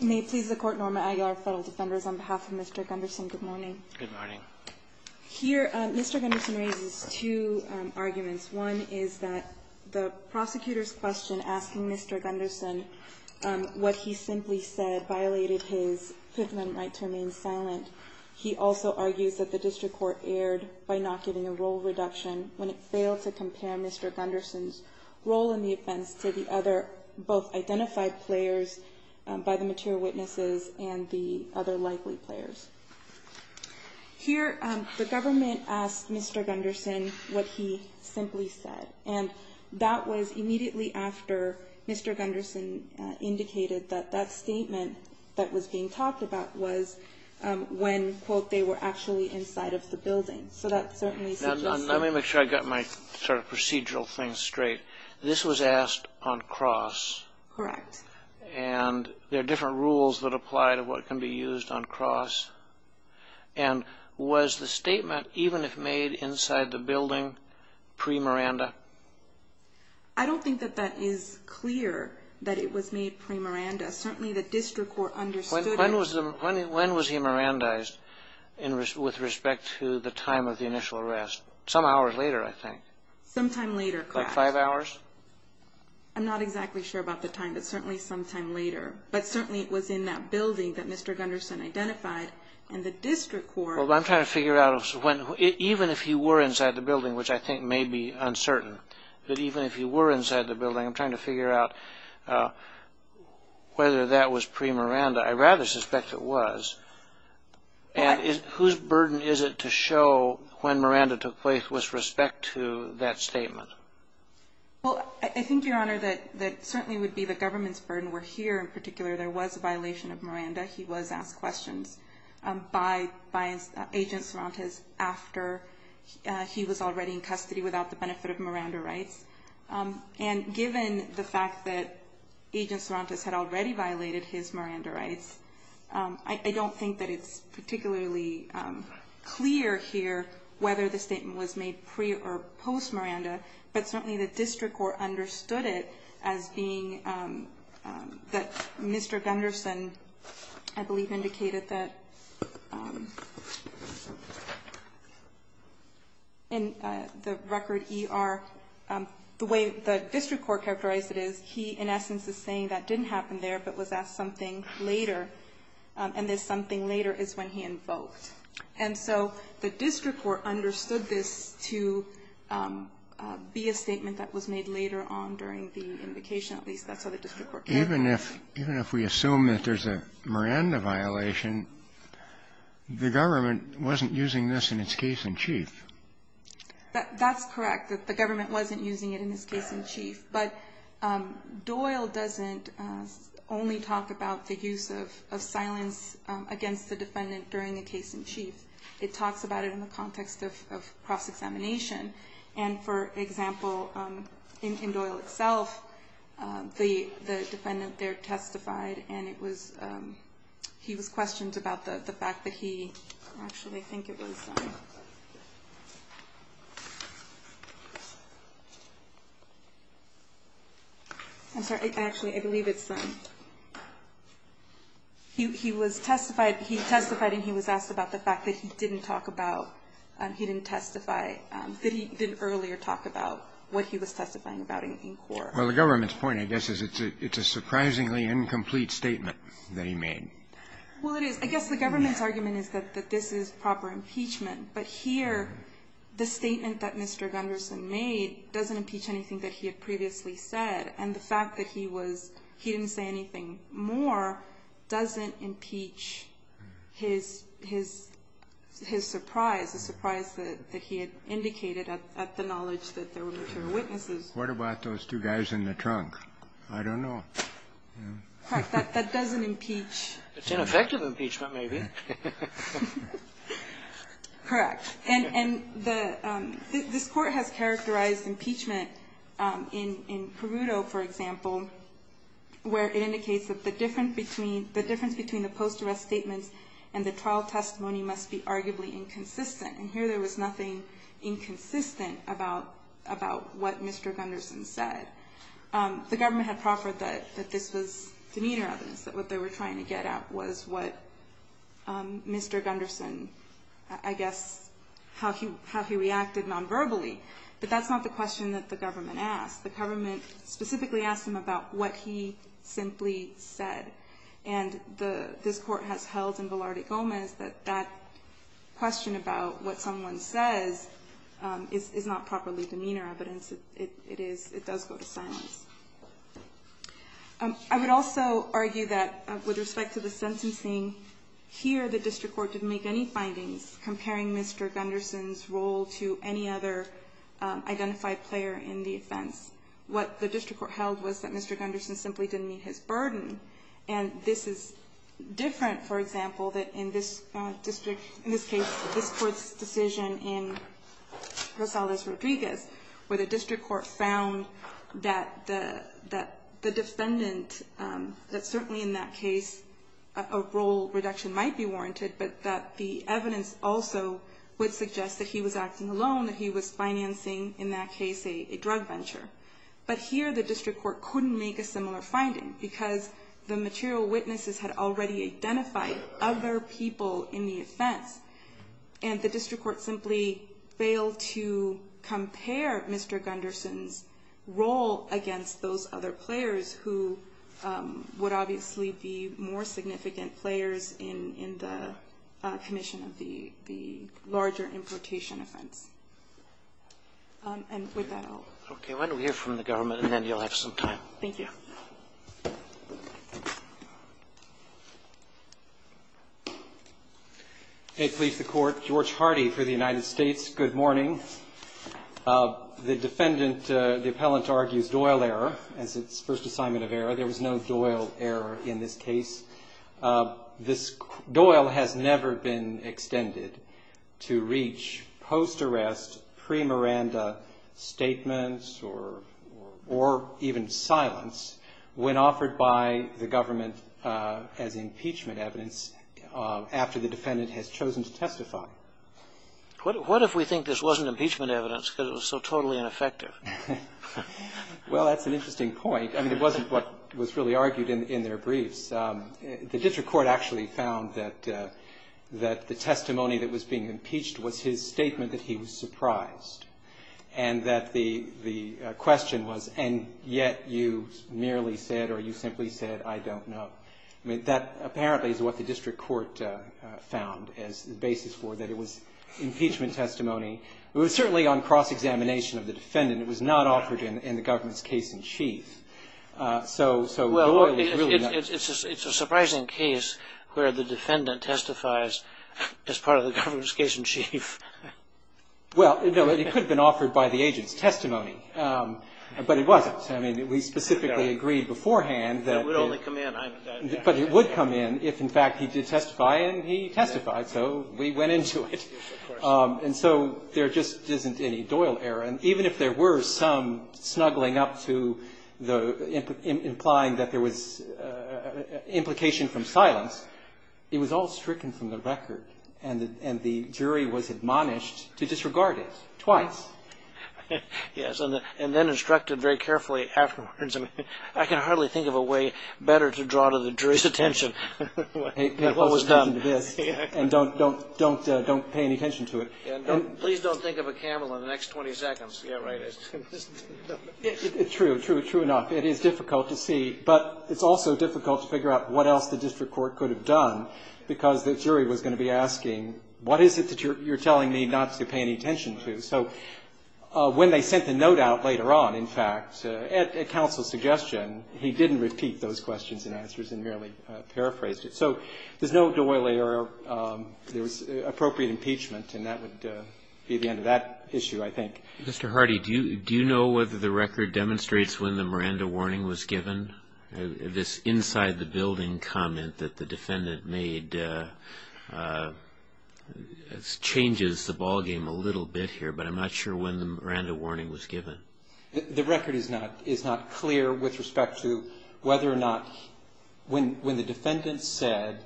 May it please the Court, Norma Aguilar, Federal Defenders, on behalf of Mr. Gunderson, good morning. Good morning. Here, Mr. Gunderson raises two arguments. One is that the prosecutor's question asking Mr. Gunderson what he simply said violated his Fifth Amendment right to remain silent. He also argues that the district court erred by not giving a role reduction when it failed to compare Mr. Gunderson's role in the offense to the other both identified players by the material witnesses and the other likely players. Here, the government asked Mr. Gunderson what he simply said. And that was immediately after Mr. Gunderson indicated that that statement that was being talked about was when, quote, they were actually inside of the building. Let me make sure I got my sort of procedural thing straight. This was asked on cross. Correct. And there are different rules that apply to what can be used on cross. And was the statement, even if made inside the building, pre-Miranda? I don't think that that is clear that it was made pre-Miranda. Certainly the district court understood it. When was he Mirandized with respect to the time of the initial arrest? Some hours later, I think. Some time later. About five hours? I'm not exactly sure about the time, but certainly some time later. But certainly it was in that building that Mr. Gunderson identified. And the district court- Well, I'm trying to figure out, even if he were inside the building, which I think may be uncertain, that even if he were inside the building, I'm trying to figure out whether that was pre-Miranda. I rather suspect it was. And whose burden is it to show when Miranda took place with respect to that statement? Well, I think, Your Honor, that certainly would be the government's burden. Where here, in particular, there was a violation of Miranda. He was asked questions by Agent Sorantes after he was already in custody without the benefit of Miranda rights. And given the fact that Agent Sorantes had already violated his Miranda rights, I don't think that it's particularly clear here whether the statement was made pre- or post-Miranda, but certainly the district court understood it as being that Mr. Gunderson, I believe, indicated that in the record ER, the way the district court characterized it is he, in essence, is saying that didn't happen there, but was asked something later, and this something later is when he invoked. And so the district court understood this to be a statement that was made later on during the invocation, at least that's how the district court characterized it. Even if we assume that there's a Miranda violation, the government wasn't using this in its case-in-chief. That's correct, that the government wasn't using it in its case-in-chief. But Doyle doesn't only talk about the use of silence against the defendant during the case-in-chief. It talks about it in the context of cross-examination. And, for example, in Doyle itself, the defendant there testified, and he was questioned about the fact that he, actually I think it was, I'm sorry, actually I believe it's, he testified and he was asked about the fact that he didn't talk about, he didn't testify, that he didn't earlier talk about what he was testifying about in court. Well, the government's point, I guess, is it's a surprisingly incomplete statement that he made. Well, it is. I guess the government's argument is that this is proper impeachment. But here, the statement that Mr. Gunderson made doesn't impeach anything that he had previously said. And the fact that he was, he didn't say anything more doesn't impeach his surprise, the surprise that he had indicated at the knowledge that there were material witnesses. What about those two guys in the trunk? I don't know. Correct. That doesn't impeach. It's ineffective impeachment, maybe. Correct. And this court has characterized impeachment in Peruto, for example, where it indicates that the difference between the post-arrest statements and the trial testimony must be arguably inconsistent. And here there was nothing inconsistent about what Mr. Gunderson said. The government had proffered that this was demeanor evidence, that what they were trying to get at was what Mr. Gunderson, I guess, how he reacted non-verbally. But that's not the question that the government asked. The government specifically asked him about what he simply said. And this court has held in Velarde Gomez that that question about what someone says is not properly demeanor evidence. It does go to silence. I would also argue that with respect to the sentencing, here the district court didn't make any findings comparing Mr. Gunderson's role to any other identified player in the offense. What the district court held was that Mr. Gunderson simply didn't meet his burden. And this is different, for example, that in this district, in this case, this Court's decision in Rosales-Rodriguez, where the district court found that the defendant, that certainly in that case a role reduction might be warranted, but that the evidence also would suggest that he was acting alone, that he was financing, in that case, a drug venture. But here the district court couldn't make a similar finding because the material witnesses had already identified other people in the offense. And the district court simply failed to compare Mr. Gunderson's role against those other players who would obviously be more significant players in the commission of the larger importation offense. And with that, I'll. Roberts. Okay. Why don't we hear from the government, and then you'll have some time. Thank you. Hey, police, the court. George Hardy for the United States. Good morning. The defendant, the appellant, argues Doyle error as its first assignment of error. There was no Doyle error in this case. This Doyle has never been extended to reach post-arrest, pre-Miranda statements, or even silence, when offered by the government as impeachment evidence after the defendant has chosen to testify. What if we think this wasn't impeachment evidence because it was so totally ineffective? Well, that's an interesting point. I mean, it wasn't what was really argued in their briefs. The district court actually found that the testimony that was being impeached was his statement that he was surprised, and that the question was, and yet you merely said or you simply said, I don't know. I mean, that apparently is what the district court found as the basis for that it was impeachment testimony. It was certainly on cross-examination of the defendant. It was not offered in the government's case in chief. So Doyle is really not. Well, it's a surprising case where the defendant testifies as part of the government's case in chief. Well, it could have been offered by the agent's testimony, but it wasn't. I mean, we specifically agreed beforehand that. That would only come in. But it would come in if, in fact, he did testify, and he testified, so we went into it. And so there just isn't any Doyle error. And even if there were some snuggling up to the, implying that there was implication from silence, it was all stricken from the record, and the jury was admonished to disregard it twice. Yes, and then instructed very carefully afterwards. I mean, I can hardly think of a way better to draw to the jury's attention what was done to this and don't pay any attention to it. And please don't think of a camel in the next 20 seconds. Yeah, right. It's true, true, true enough. It is difficult to see, but it's also difficult to figure out what else the district court could have done, because the jury was going to be asking, what is it that you're telling me not to pay any attention to? So when they sent the note out later on, in fact, at counsel's suggestion, he didn't repeat those questions and answers and merely paraphrased it. So there's no Doyle error. There was appropriate impeachment, and that would be the end of that issue, I think. Mr. Hardy, do you know whether the record demonstrates when the Miranda warning was given? This inside the building comment that the defendant made changes the ballgame a little bit here, but I'm not sure when the Miranda warning was given. The record is not clear with respect to whether or not when the defendant said,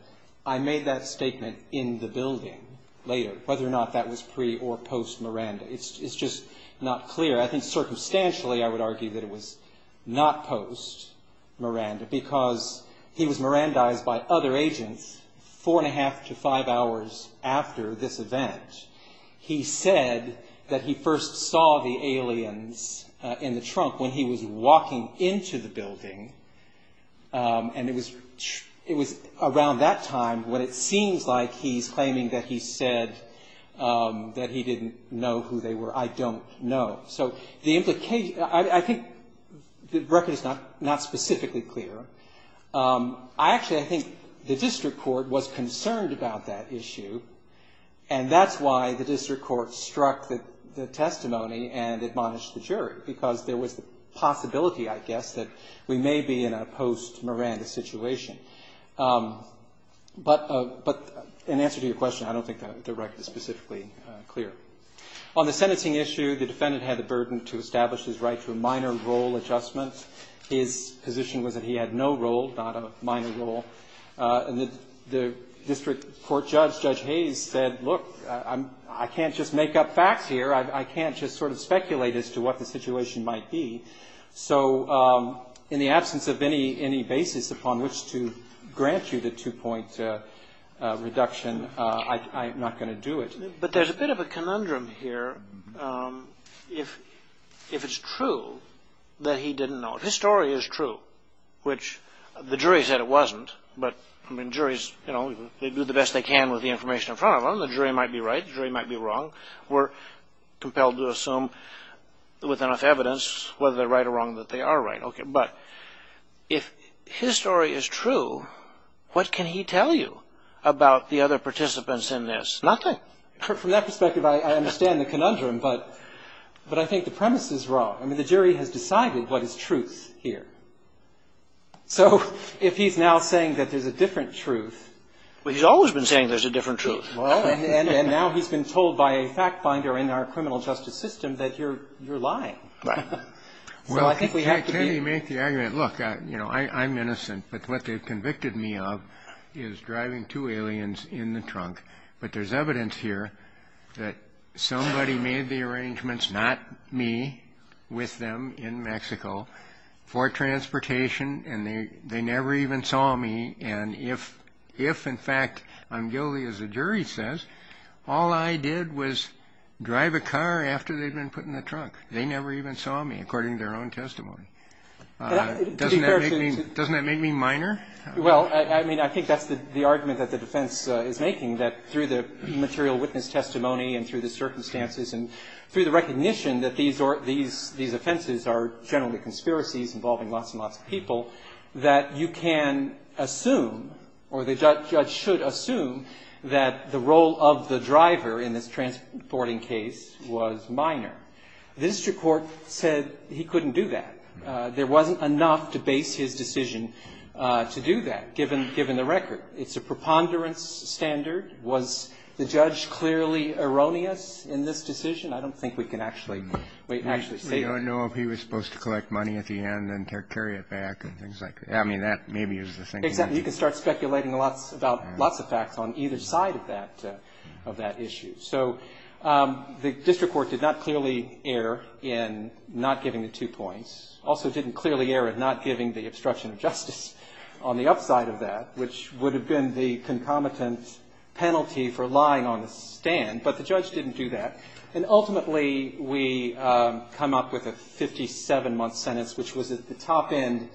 I made that statement in the building later, whether or not that was pre- or post-Miranda. It's just not clear. I think circumstantially I would argue that it was not post-Miranda, because he was Mirandized by other agents four and a half to five hours after this event. He said that he first saw the aliens in the trunk when he was walking into the building, and it was around that time when it seems like he's claiming that he said that he didn't know who they were. I don't know. So the implication – I think the record is not specifically clear. I actually think the district court was concerned about that issue, and that's why the district court struck the testimony and admonished the jury, because there was the possibility, I guess, that we may be in a post-Miranda situation. But in answer to your question, I don't think the record is specifically clear. On the sentencing issue, the defendant had the burden to establish his right to a minor role adjustment. His position was that he had no role, not a minor role, and the district court judge, Judge Hayes, said, look, I can't just make up facts here. I can't just sort of speculate as to what the situation might be. So in the absence of any basis upon which to grant you the two-point reduction, I'm not going to do it. But there's a bit of a conundrum here if it's true that he didn't know. If his story is true, which the jury said it wasn't, but, I mean, juries, you know, they do the best they can with the information in front of them. The jury might be right. The jury might be wrong. We're compelled to assume with enough evidence whether they're right or wrong that they are right. But if his story is true, what can he tell you about the other participants in this? Nothing. From that perspective, I understand the conundrum, but I think the premise is wrong. I mean, the jury has decided what is truth here. So if he's now saying that there's a different truth. Well, he's always been saying there's a different truth. Well, and now he's been told by a fact-finder in our criminal justice system that you're lying. Right. Well, I think we have to be able to make the argument, look, you know, I'm innocent, but what they've convicted me of is driving two aliens in the trunk. But there's evidence here that somebody made the arrangements, not me, with them in Mexico for transportation, and they never even saw me. And if, in fact, I'm guilty, as the jury says, all I did was drive a car after they'd been put in the trunk. They never even saw me, according to their own testimony. Doesn't that make me minor? Well, I mean, I think that's the argument that the defense is making, that through the material witness testimony and through the circumstances and through the recognition that these offenses are generally conspiracies involving lots and lots of people, that you can assume or the judge should assume that the role of the driver in this transporting case was minor. The district court said he couldn't do that. There wasn't enough to base his decision to do that, given the record. It's a preponderance standard. Was the judge clearly erroneous in this decision? I don't think we can actually say that. We don't know if he was supposed to collect money at the end and carry it back and things like that. I mean, that maybe is the thinking. Exactly. You can start speculating about lots of facts on either side of that issue. So the district court did not clearly err in not giving the two points, also didn't clearly err in not giving the obstruction of justice on the upside of that, which would have been the concomitant penalty for lying on the stand. But the judge didn't do that. And ultimately we come up with a 57-month sentence, which was at the top end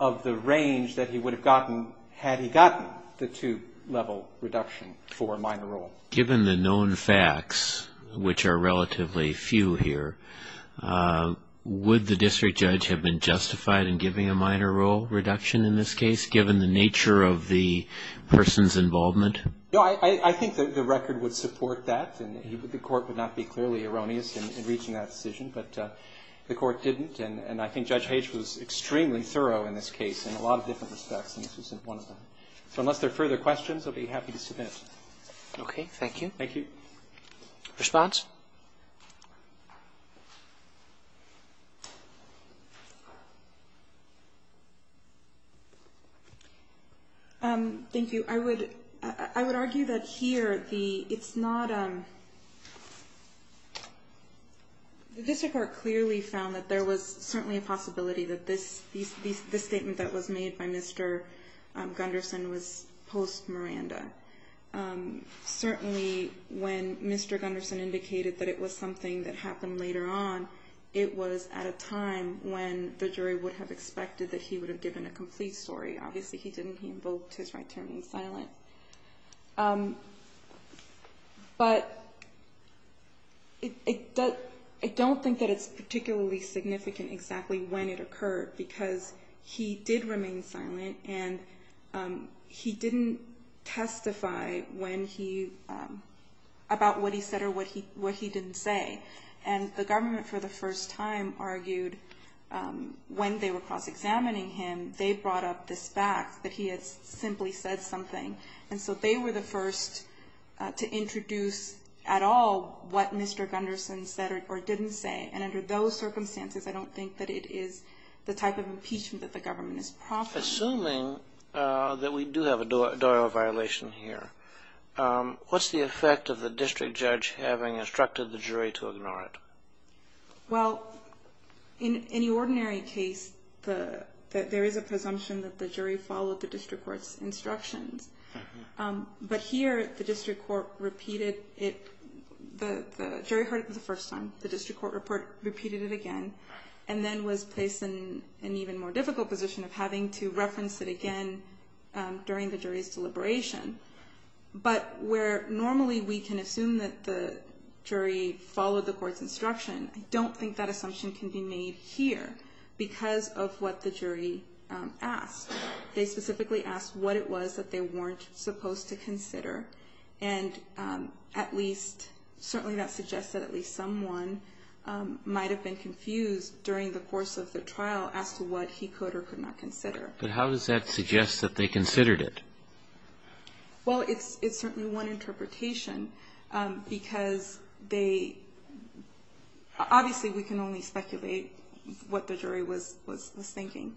of the range that he would have gotten had he gotten the two-level reduction for a minor role. Given the known facts, which are relatively few here, would the district judge have been justified in giving a minor role reduction in this case, given the nature of the person's involvement? No, I think the record would support that. And the court would not be clearly erroneous in reaching that decision. But the court didn't. And I think Judge Hage was extremely thorough in this case in a lot of different respects, and this was one of them. So unless there are further questions, I'll be happy to submit. Okay. Thank you. Thank you. Response? Thank you. I would argue that here it's not the district court clearly found that there was certainly a possibility that this statement that was made by Mr. Gunderson was post-Miranda. Certainly when Mr. Gunderson indicated that it was something that happened later on, it was at a time when the jury would have expected that he would have given a complete story. Obviously he didn't. He invoked his right to remain silent. But I don't think that it's particularly significant exactly when it occurred because he did remain silent and he didn't testify about what he said or what he didn't say. And the government, for the first time, argued when they were cross-examining him, they brought up this fact that he had simply said something. And so they were the first to introduce at all what Mr. Gunderson said or didn't say. And under those circumstances, I don't think that it is the type of impeachment that the government is profiting. Assuming that we do have a Doyle violation here, what's the effect of the district judge having instructed the jury to ignore it? Well, in the ordinary case, there is a presumption that the jury followed the district court's instructions. But here the district court repeated it. The jury heard it for the first time. The district court repeated it again and then was placed in an even more difficult position of having to reference it again during the jury's deliberation. But where normally we can assume that the jury followed the court's instruction, I don't think that assumption can be made here because of what the jury asked. They specifically asked what it was that they weren't supposed to consider. And at least certainly that suggests that at least someone might have been confused during the course of the trial as to what he could or could not consider. But how does that suggest that they considered it? Well, it's certainly one interpretation because they – obviously we can only speculate what the jury was thinking.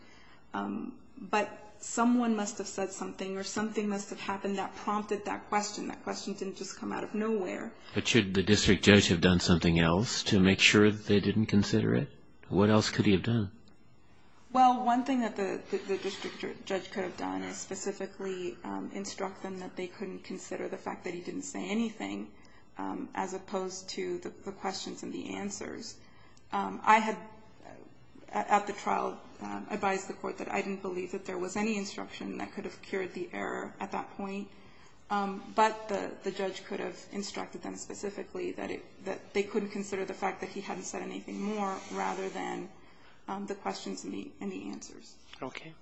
But someone must have said something or something must have happened that prompted that question. That question didn't just come out of nowhere. But should the district judge have done something else to make sure that they didn't consider it? What else could he have done? Well, one thing that the district judge could have done is specifically instruct them that they couldn't consider the fact that he didn't say anything as opposed to the questions and the answers. I had at the trial advised the court that I didn't believe that there was any instruction that could have cured the error at that point. But the judge could have instructed them specifically that they couldn't consider the fact that he hadn't said anything more rather than the questions and the answers. Okay.